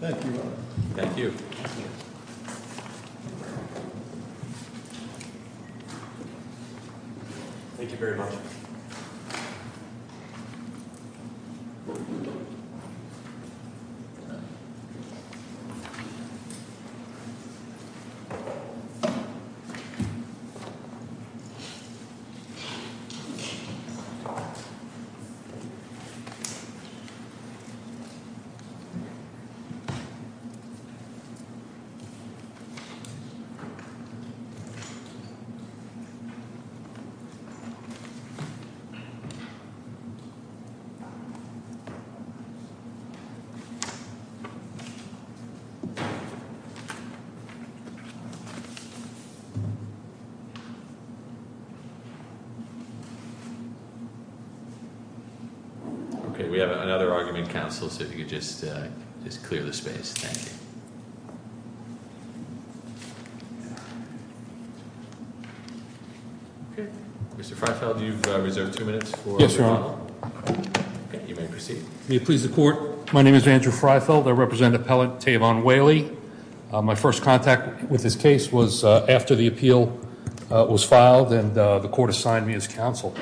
Thank you very much. Thank you very much. Okay, we have another argument council, so if you could just just clear the space. Thank you. Mr. Freyfeld, you've reserved two minutes. Yes, you're on. You may proceed. Please the court. My name is Andrew Freyfeld. I represent appellate Tavon Whaley. My first contact with this case was after the appeal was filed, and the court assigned me as counsel.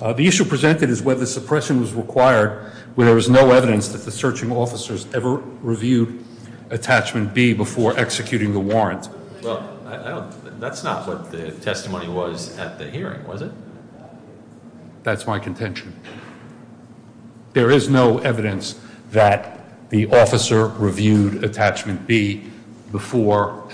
The issue presented is whether suppression was required when there was no evidence that the searching officers ever reviewed attachment B before executing the warrant. Well, that's not what the testimony was at the hearing, was it? That's my contention. There is no evidence that the officer reviewed attachment B before,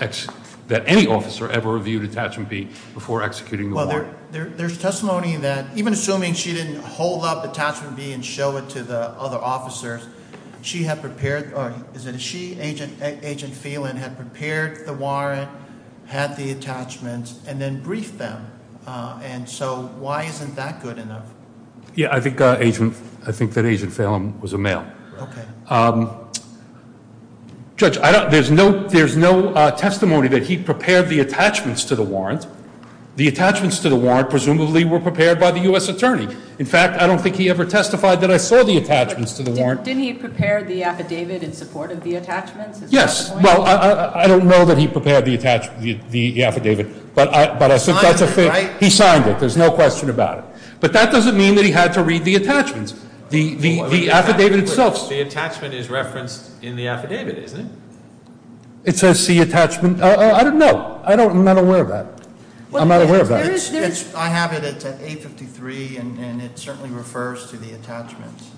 that any officer ever reviewed attachment B before executing the warrant. Well, there's testimony that even assuming she didn't hold up attachment B and show it to the other officers, she had prepared, or is it a she, Agent Phelan had prepared the warrant, had the attachments, and then briefed them. And so why isn't that good enough? Yeah, I think that Agent Phelan was a male. Okay. Judge, there's no testimony that he prepared the attachments to the warrant. The attachments to the warrant presumably were prepared by the U.S. attorney. In fact, I don't think he ever testified that I saw the attachments to the warrant. Didn't he prepare the affidavit in support of the attachments? Is that the point? Yes. Well, I don't know that he prepared the affidavit, but he signed it. There's no question about it. But that doesn't mean that he had to read the attachments. The affidavit itself. The attachment is referenced in the affidavit, isn't it? It says C attachment. I don't know. I'm not aware of that. I'm not aware of that. I have it at 853, and it certainly refers to the attachments.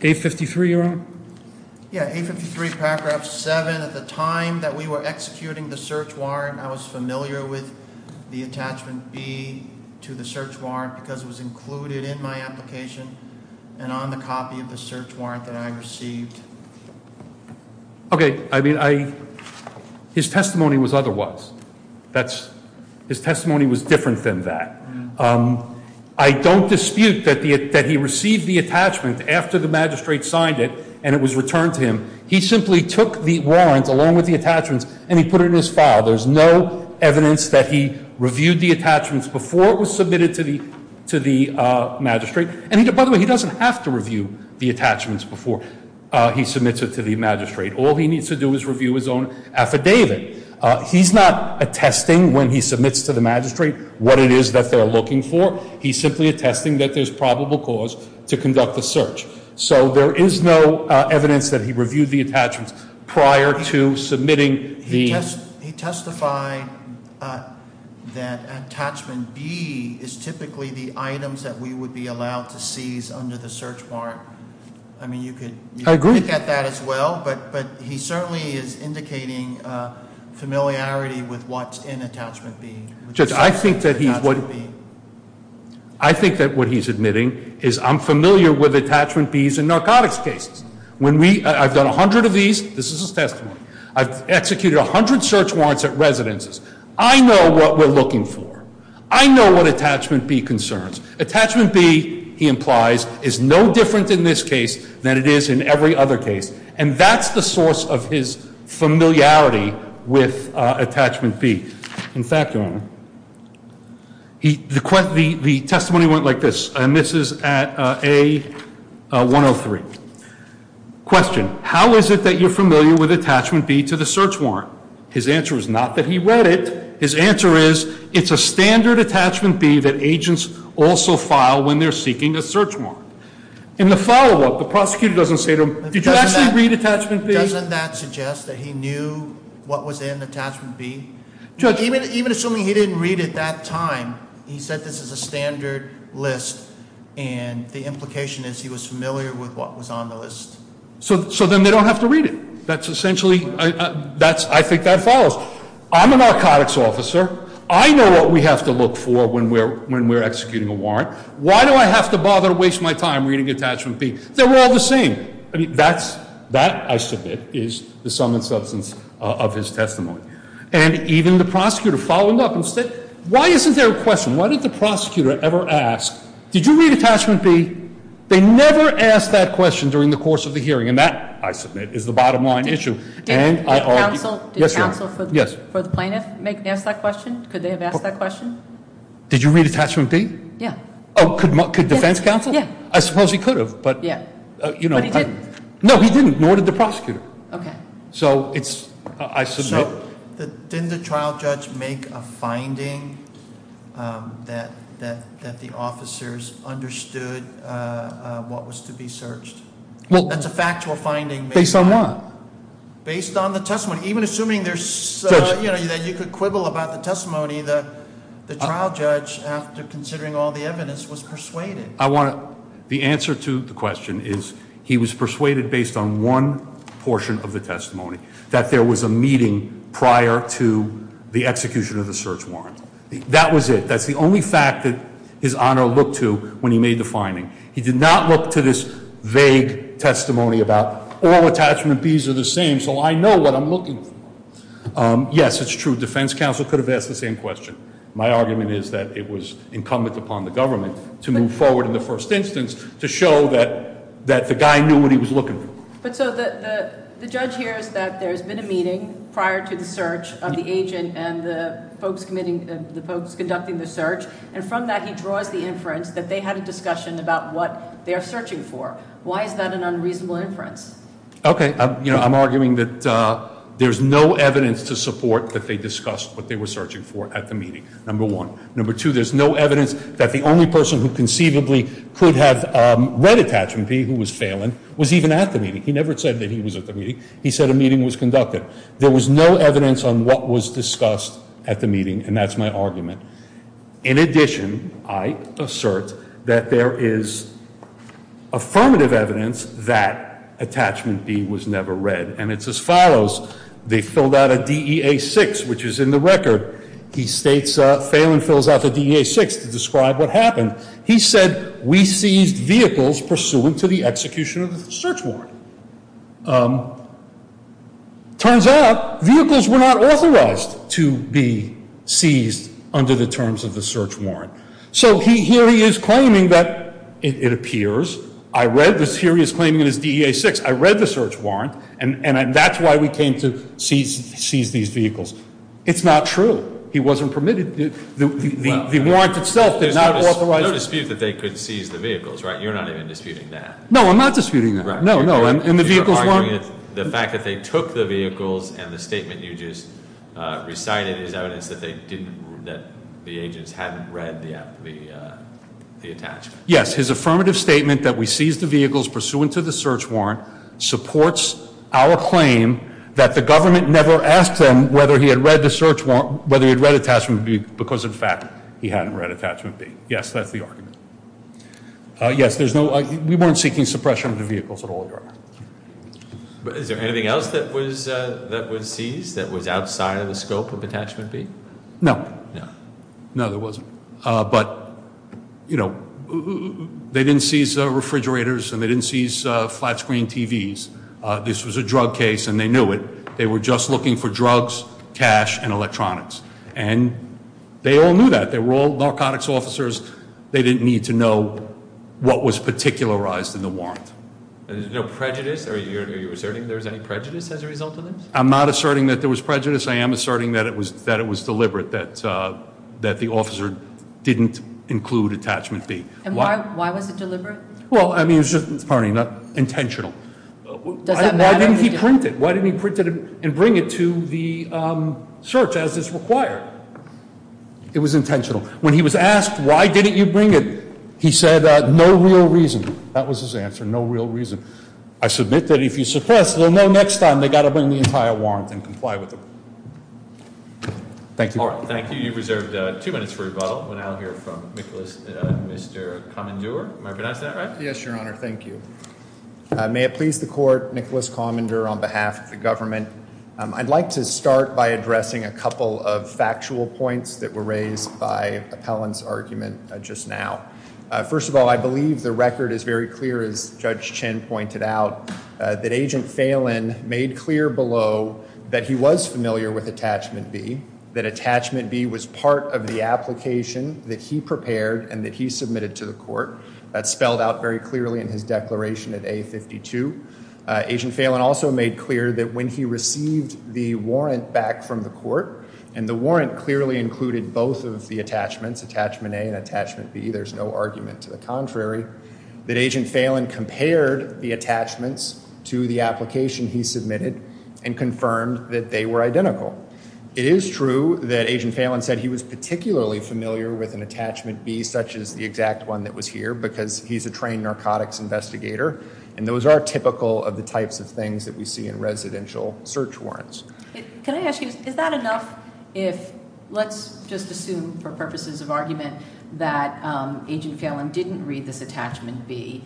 853, your Honor? Yeah, 853 paragraph 7. At the time that we were executing the search warrant, I was familiar with the attachment B to the search warrant because it was included in my application and on the copy of the search warrant that I received. Okay. His testimony was otherwise. His testimony was different than that. I don't dispute that he received the attachment after the magistrate signed it and it was returned to him. He simply took the warrant along with the attachments and he put it in his file. There's no evidence that he reviewed the attachments before it was submitted to the magistrate. And, by the way, he doesn't have to review the attachments before he submits it to the magistrate. All he needs to do is review his own affidavit. He's not attesting when he submits to the magistrate what it is that they're looking for. He's simply attesting that there's probable cause to conduct the search. So there is no evidence that he reviewed the attachments prior to submitting the- He testified that attachment B is typically the items that we would be allowed to seize under the search warrant. I mean, you could- Look at that as well, but he certainly is indicating familiarity with what's in attachment B. I think that what he's admitting is I'm familiar with attachment Bs in narcotics cases. I've done a hundred of these. This is his testimony. I've executed a hundred search warrants at residences. I know what we're looking for. I know what attachment B concerns. Attachment B, he implies, is no different in this case than it is in every other case. And that's the source of his familiarity with attachment B. In fact, Your Honor, the testimony went like this. And this is at A-103. Question. How is it that you're familiar with attachment B to the search warrant? His answer is not that he read it. His answer is it's a standard attachment B that agents also file when they're seeking a search warrant. In the follow-up, the prosecutor doesn't say to him, did you actually read attachment B? Doesn't that suggest that he knew what was in attachment B? Even assuming he didn't read it that time, he said this is a standard list. And the implication is he was familiar with what was on the list. So then they don't have to read it. That's essentially, I think that follows. I'm a narcotics officer. I know what we have to look for when we're executing a warrant. Why do I have to bother to waste my time reading attachment B? They're all the same. I mean, that, I submit, is the sum and substance of his testimony. And even the prosecutor followed up and said, why isn't there a question? Why didn't the prosecutor ever ask, did you read attachment B? They never asked that question during the course of the hearing. And that, I submit, is the bottom line issue. And I argue. Did counsel for the plaintiff ask that question? Could they have asked that question? Did you read attachment B? Yeah. Oh, could defense counsel? Yeah. I suppose he could have. Yeah. But he didn't. No, he didn't. Nor did the prosecutor. Okay. So it's, I submit. So didn't the trial judge make a finding that the officers understood what was to be searched? That's a factual finding. Based on what? Based on the testimony. Even assuming there's, you know, that you could quibble about the testimony, the trial judge, after considering all the evidence, was persuaded. The answer to the question is he was persuaded based on one portion of the testimony, that there was a meeting prior to the execution of the search warrant. That was it. That's the only fact that his honor looked to when he made the finding. He did not look to this vague testimony about all attachment Bs are the same, so I know what I'm looking for. Yes, it's true. Defense counsel could have asked the same question. My argument is that it was incumbent upon the government to move forward in the first instance to show that the guy knew what he was looking for. But so the judge hears that there's been a meeting prior to the search of the agent and the folks conducting the search, and from that he draws the inference that they had a discussion about what they are searching for. Why is that an unreasonable inference? Okay. You know, I'm arguing that there's no evidence to support that they discussed what they were searching for at the meeting, number one. Number two, there's no evidence that the only person who conceivably could have read attachment B, who was Phelan, was even at the meeting. He never said that he was at the meeting. He said a meeting was conducted. There was no evidence on what was discussed at the meeting, and that's my argument. In addition, I assert that there is affirmative evidence that attachment B was never read, and it's as follows. They filled out a DEA-6, which is in the record. He states Phelan fills out the DEA-6 to describe what happened. He said we seized vehicles pursuant to the execution of the search warrant. It turns out vehicles were not authorized to be seized under the terms of the search warrant. So here he is claiming that it appears. I read this. Here he is claiming it is DEA-6. I read the search warrant, and that's why we came to seize these vehicles. It's not true. He wasn't permitted. The warrant itself did not authorize it. No dispute that they could seize the vehicles, right? You're not even disputing that. No, I'm not disputing that. No, no, and the vehicles weren't- The fact that they took the vehicles and the statement you just recited is evidence that the agents hadn't read the attachment. Yes, his affirmative statement that we seized the vehicles pursuant to the search warrant supports our claim that the government never asked them whether he had read attachment B because, in fact, he hadn't read attachment B. Yes, that's the argument. Yes, we weren't seeking suppression of the vehicles at all, Your Honor. Is there anything else that was seized that was outside of the scope of attachment B? No. No, there wasn't. But they didn't seize refrigerators, and they didn't seize flat-screen TVs. This was a drug case, and they knew it. They were just looking for drugs, cash, and electronics, and they all knew that. They were all narcotics officers. They didn't need to know what was particularized in the warrant. There was no prejudice? Are you asserting there was any prejudice as a result of this? I'm not asserting that there was prejudice. I am asserting that it was deliberate, that the officer didn't include attachment B. And why was it deliberate? Well, I mean, it was just, pardon me, intentional. Does that matter? Why didn't he print it? Why didn't he print it and bring it to the search as is required? It was intentional. When he was asked, why didn't you bring it, he said, no real reason. That was his answer, no real reason. I submit that if you suppress, they'll know next time they've got to bring the entire warrant and comply with it. Thank you. All right, thank you. You've reserved two minutes for rebuttal. We'll now hear from Nicholas, Mr. Commandeur. Am I pronouncing that right? Yes, Your Honor. Thank you. May it please the Court, Nicholas Commandeur on behalf of the government. I'd like to start by addressing a couple of factual points that were raised by Appellant's argument just now. First of all, I believe the record is very clear, as Judge Chin pointed out, that Agent Phelan made clear below that he was familiar with attachment B, that attachment B was part of the application that he prepared and that he submitted to the court. That's spelled out very clearly in his declaration at A52. Agent Phelan also made clear that when he received the warrant back from the court, and the warrant clearly included both of the attachments, attachment A and attachment B, there's no argument to the contrary, that Agent Phelan compared the attachments to the application he submitted and confirmed that they were identical. It is true that Agent Phelan said he was particularly familiar with an attachment B, such as the exact one that was here, because he's a trained narcotics investigator, and those are typical of the types of things that we see in residential search warrants. Can I ask you, is that enough if, let's just assume for purposes of argument, that Agent Phelan didn't read this attachment B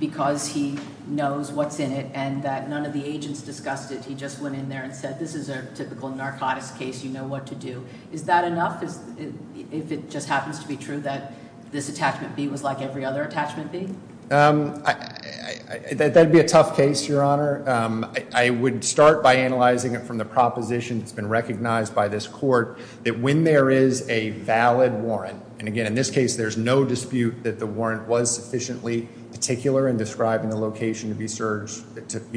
because he knows what's in it and that none of the agents discussed it, he just went in there and said, this is a typical narcotics case, you know what to do. Is that enough if it just happens to be true that this attachment B was like every other attachment B? That would be a tough case, Your Honor. I would start by analyzing it from the proposition that's been recognized by this court, that when there is a valid warrant, and again in this case there's no dispute that the warrant was sufficiently particular in describing the location to be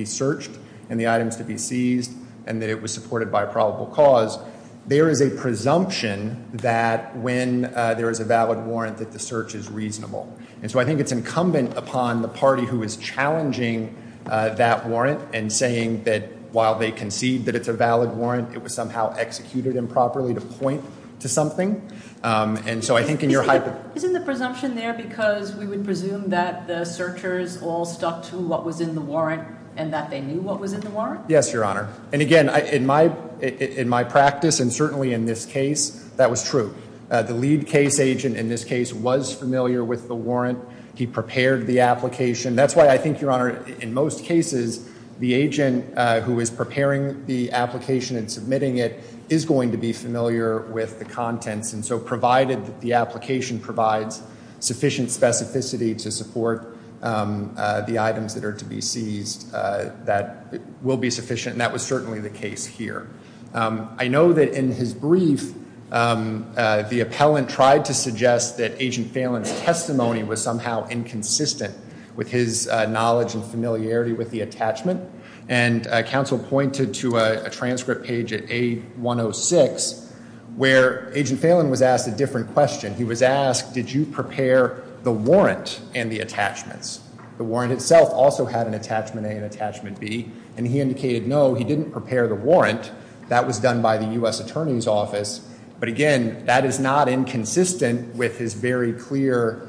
searched and the items to be seized, and that it was supported by probable cause, there is a presumption that when there is a valid warrant that the search is reasonable. And so I think it's incumbent upon the party who is challenging that warrant and saying that while they concede that it's a valid warrant, it was somehow executed improperly to point to something. And so I think in your hypothesis... Isn't the presumption there because we would presume that the searchers all stuck to what was in the warrant and that they knew what was in the warrant? Yes, Your Honor. And again, in my practice and certainly in this case, that was true. The lead case agent in this case was familiar with the warrant. He prepared the application. That's why I think, Your Honor, in most cases, the agent who is preparing the application and submitting it is going to be familiar with the contents. And so provided that the application provides sufficient specificity to support the items that are to be seized, that will be sufficient, and that was certainly the case here. I know that in his brief, the appellant tried to suggest that Agent Phelan's testimony was somehow inconsistent with his knowledge and familiarity with the attachment. And counsel pointed to a transcript page at A106 where Agent Phelan was asked a different question. He was asked, did you prepare the warrant and the attachments? The warrant itself also had an attachment A and attachment B. And he indicated no, he didn't prepare the warrant. That was done by the U.S. Attorney's Office. But again, that is not inconsistent with his very clear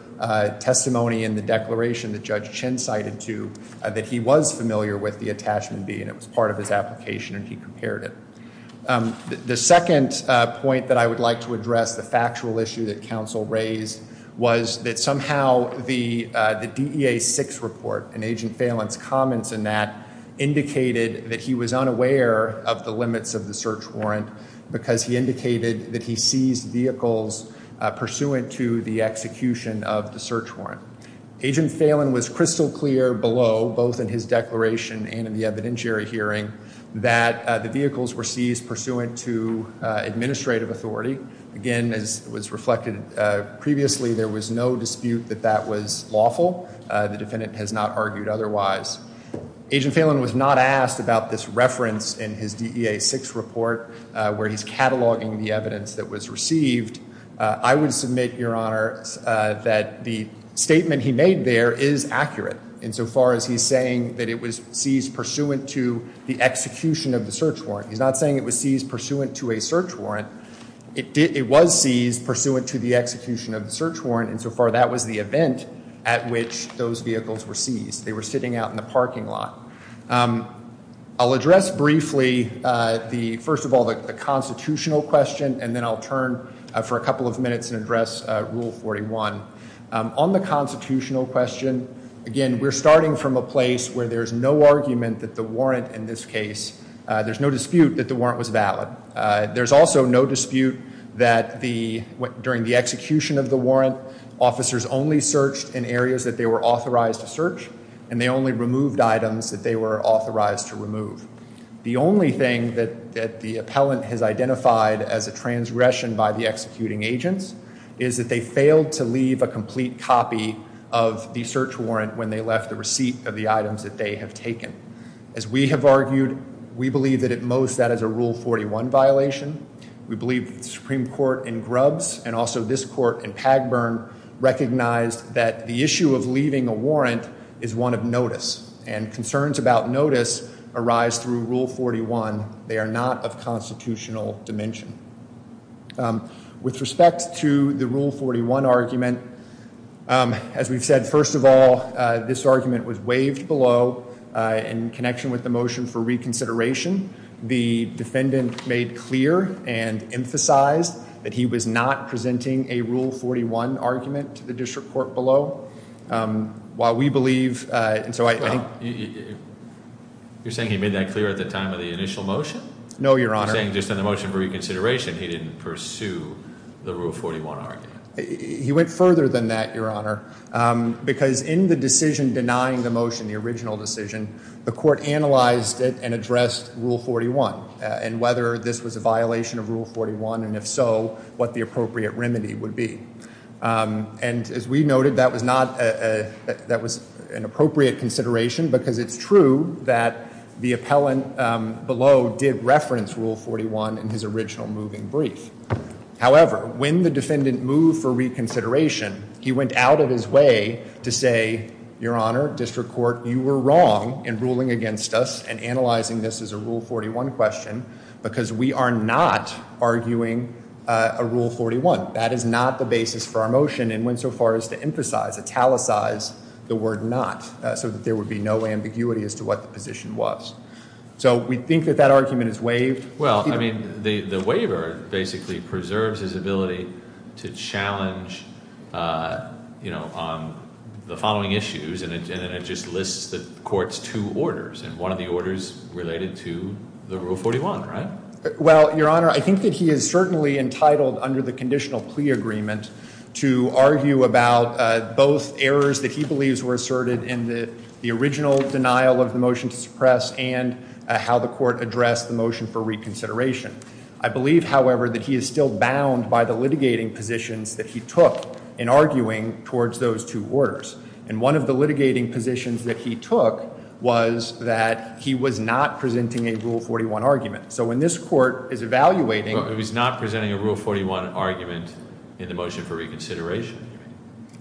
testimony in the declaration that Judge Chin cited to, that he was familiar with the attachment B and it was part of his application and he prepared it. The second point that I would like to address, the factual issue that counsel raised, was that somehow the DEA 6 report and Agent Phelan's comments in that indicated that he was unaware of the limits of the search warrant because he indicated that he seized vehicles pursuant to the execution of the search warrant. Agent Phelan was crystal clear below, both in his declaration and in the evidentiary hearing, that the vehicles were seized pursuant to administrative authority. Again, as was reflected previously, there was no dispute that that was lawful. The defendant has not argued otherwise. Agent Phelan was not asked about this reference in his DEA 6 report where he's cataloging the evidence that was received. I would submit, Your Honor, that the statement he made there is accurate insofar as he's saying that it was seized pursuant to the execution of the search warrant. He's not saying it was seized pursuant to a search warrant. It was seized pursuant to the execution of the search warrant, and so far that was the event at which those vehicles were seized. They were sitting out in the parking lot. I'll address briefly, first of all, the constitutional question, and then I'll turn for a couple of minutes and address Rule 41. On the constitutional question, again, we're starting from a place where there's no argument that the warrant in this case, there's no dispute that the warrant was valid. There's also no dispute that during the execution of the warrant, officers only searched in areas that they were authorized to search, and they only removed items that they were authorized to remove. The only thing that the appellant has identified as a transgression by the executing agents is that they failed to leave a complete copy of the search warrant when they left the receipt of the items that they have taken. As we have argued, we believe that at most that is a Rule 41 violation. We believe the Supreme Court in Grubbs and also this court in Pagburn recognized that the issue of leaving a warrant is one of notice, and concerns about notice arise through Rule 41. They are not of constitutional dimension. With respect to the Rule 41 argument, as we've said, first of all, this argument was waived below in connection with the motion for reconsideration. The defendant made clear and emphasized that he was not presenting a Rule 41 argument to the district court below. While we believe, and so I think- You're saying he made that clear at the time of the initial motion? No, Your Honor. You're saying just in the motion for reconsideration, he didn't pursue the Rule 41 argument? He went further than that, Your Honor, because in the decision denying the motion, the original decision, the court analyzed it and addressed Rule 41, and whether this was a violation of Rule 41, and if so, what the appropriate remedy would be. And as we noted, that was an appropriate consideration, because it's true that the appellant below did reference Rule 41 in his original moving brief. However, when the defendant moved for reconsideration, he went out of his way to say, Your Honor, district court, you were wrong in ruling against us and analyzing this as a Rule 41 question, because we are not arguing a Rule 41. That is not the basis for our motion and went so far as to emphasize, italicize the word not, so that there would be no ambiguity as to what the position was. So we think that that argument is waived. Well, I mean, the waiver basically preserves his ability to challenge, you know, the following issues, and it just lists the court's two orders, and one of the orders related to the Rule 41, right? Well, Your Honor, I think that he is certainly entitled under the conditional plea agreement to argue about both errors that he believes were asserted in the original denial of the motion to suppress and how the court addressed the motion for reconsideration. I believe, however, that he is still bound by the litigating positions that he took in arguing towards those two orders, and one of the litigating positions that he took was that he was not presenting a Rule 41 argument. So when this court is evaluating— Well, he was not presenting a Rule 41 argument in the motion for reconsideration.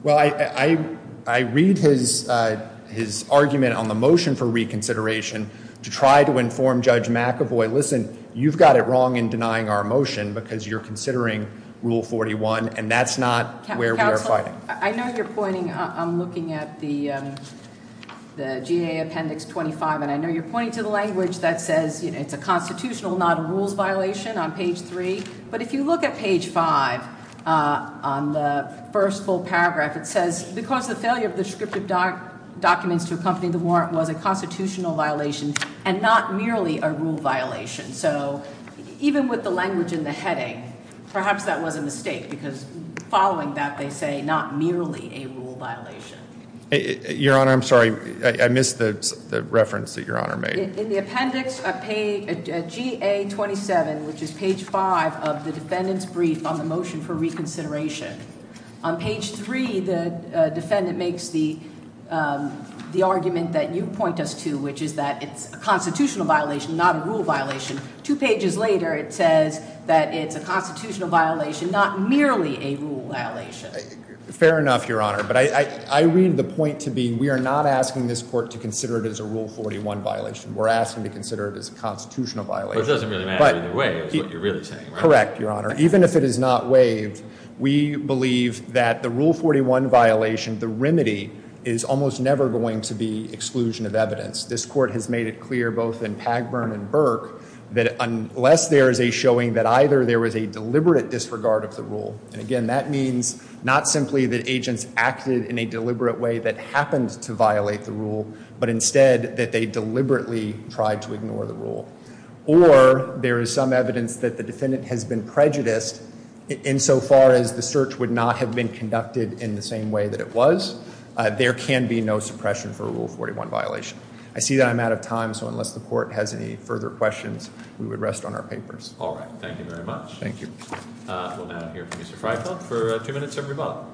Well, I read his argument on the motion for reconsideration to try to inform Judge McAvoy, listen, you've got it wrong in denying our motion because you're considering Rule 41, and that's not where we are fighting. Counsel, I know you're pointing—I'm looking at the GA Appendix 25, and I know you're pointing to the language that says it's a constitutional, not a rules violation on page 3, but if you look at page 5 on the first full paragraph, it says, because the failure of the descriptive documents to accompany the warrant was a constitutional violation and not merely a rule violation. So even with the language in the heading, perhaps that was a mistake because following that they say not merely a rule violation. Your Honor, I'm sorry. I missed the reference that Your Honor made. In the Appendix GA 27, which is page 5 of the defendant's brief on the motion for reconsideration, on page 3 the defendant makes the argument that you point us to, which is that it's a constitutional violation, not a rule violation. Two pages later it says that it's a constitutional violation, not merely a rule violation. Fair enough, Your Honor. But I read the point to be we are not asking this Court to consider it as a Rule 41 violation. We're asking to consider it as a constitutional violation. But it doesn't really matter either way is what you're really saying, right? Correct, Your Honor. Even if it is not waived, we believe that the Rule 41 violation, the remedy, is almost never going to be exclusion of evidence. This Court has made it clear both in Pagburn and Burke that unless there is a showing that either there was a deliberate disregard of the rule, and again that means not simply that agents acted in a deliberate way that happened to violate the rule, but instead that they deliberately tried to ignore the rule, or there is some evidence that the defendant has been prejudiced insofar as the search would not have been conducted in the same way that it was, there can be no suppression for a Rule 41 violation. I see that I'm out of time, so unless the Court has any further questions, we would rest on our papers. All right. Thank you very much. Thank you. We'll now hear from Mr. Freifeld for two minutes of rebuttal.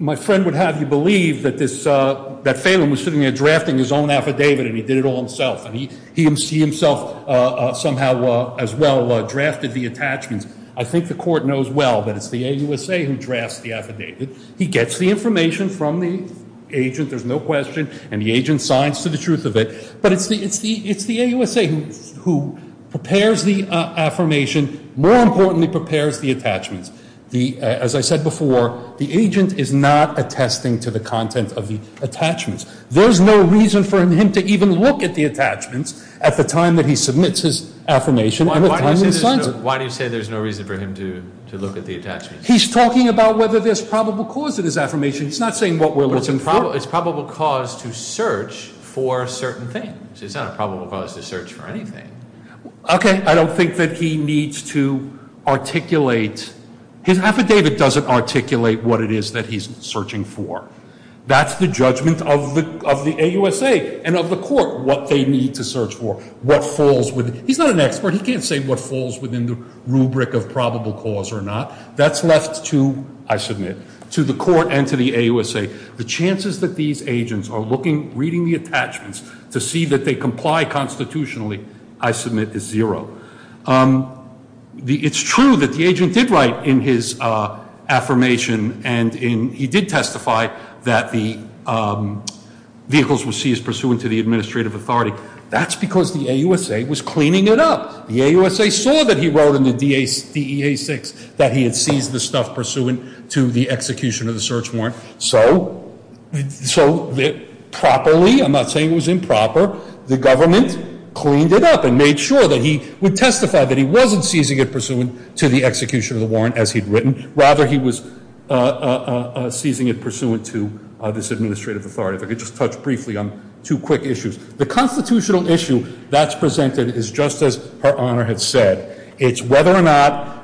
My friend would have you believe that Phelan was sitting there drafting his own affidavit, and he did it all himself, and he himself somehow as well drafted the attachments. I think the Court knows well that it's the AUSA who drafts the affidavit. He gets the information from the agent, there's no question, and the agent signs to the truth of it, but it's the AUSA who prepares the affirmation, more importantly prepares the attachments. As I said before, the agent is not attesting to the content of the attachments. There's no reason for him to even look at the attachments at the time that he submits his affirmation and the time he signs it. Why do you say there's no reason for him to look at the attachments? He's talking about whether there's probable cause in his affirmation. He's not saying what we're looking for. But it's probable cause to search for certain things. It's not a probable cause to search for anything. Okay. I don't think that he needs to articulate. His affidavit doesn't articulate what it is that he's searching for. That's the judgment of the AUSA and of the Court, what they need to search for, what falls within. He's not an expert. He can't say what falls within the rubric of probable cause or not. That's left to, I submit, to the Court and to the AUSA. The chances that these agents are looking, reading the attachments to see that they comply constitutionally, I submit, is zero. It's true that the agent did write in his affirmation and he did testify that the vehicles were seized pursuant to the administrative authority. That's because the AUSA was cleaning it up. The AUSA saw that he wrote in the DEA 6 that he had seized the stuff pursuant to the execution of the search warrant. So properly, I'm not saying it was improper, the government cleaned it up and made sure that he would testify that he wasn't seizing it pursuant to the execution of the warrant as he'd written. Rather, he was seizing it pursuant to this administrative authority. If I could just touch briefly on two quick issues. The constitutional issue that's presented is just as Her Honor had said. It's whether or not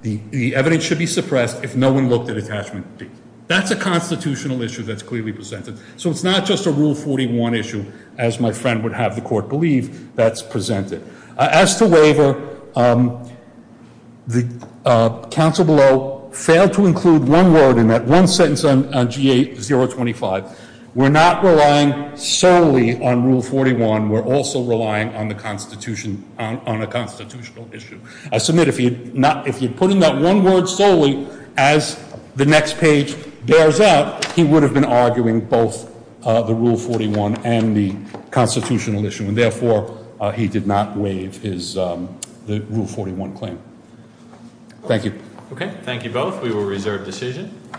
the evidence should be suppressed if no one looked at attachment D. That's a constitutional issue that's clearly presented. So it's not just a Rule 41 issue, as my friend would have the Court believe, that's presented. As to waiver, the counsel below failed to include one word in that one sentence on G8-025. We're not relying solely on Rule 41. We're also relying on a constitutional issue. I submit if he had put in that one word solely as the next page bears out, he would have been arguing both the Rule 41 and the constitutional issue. And therefore, he did not waive the Rule 41 claim. Thank you. Okay, thank you both. We will reserve decision.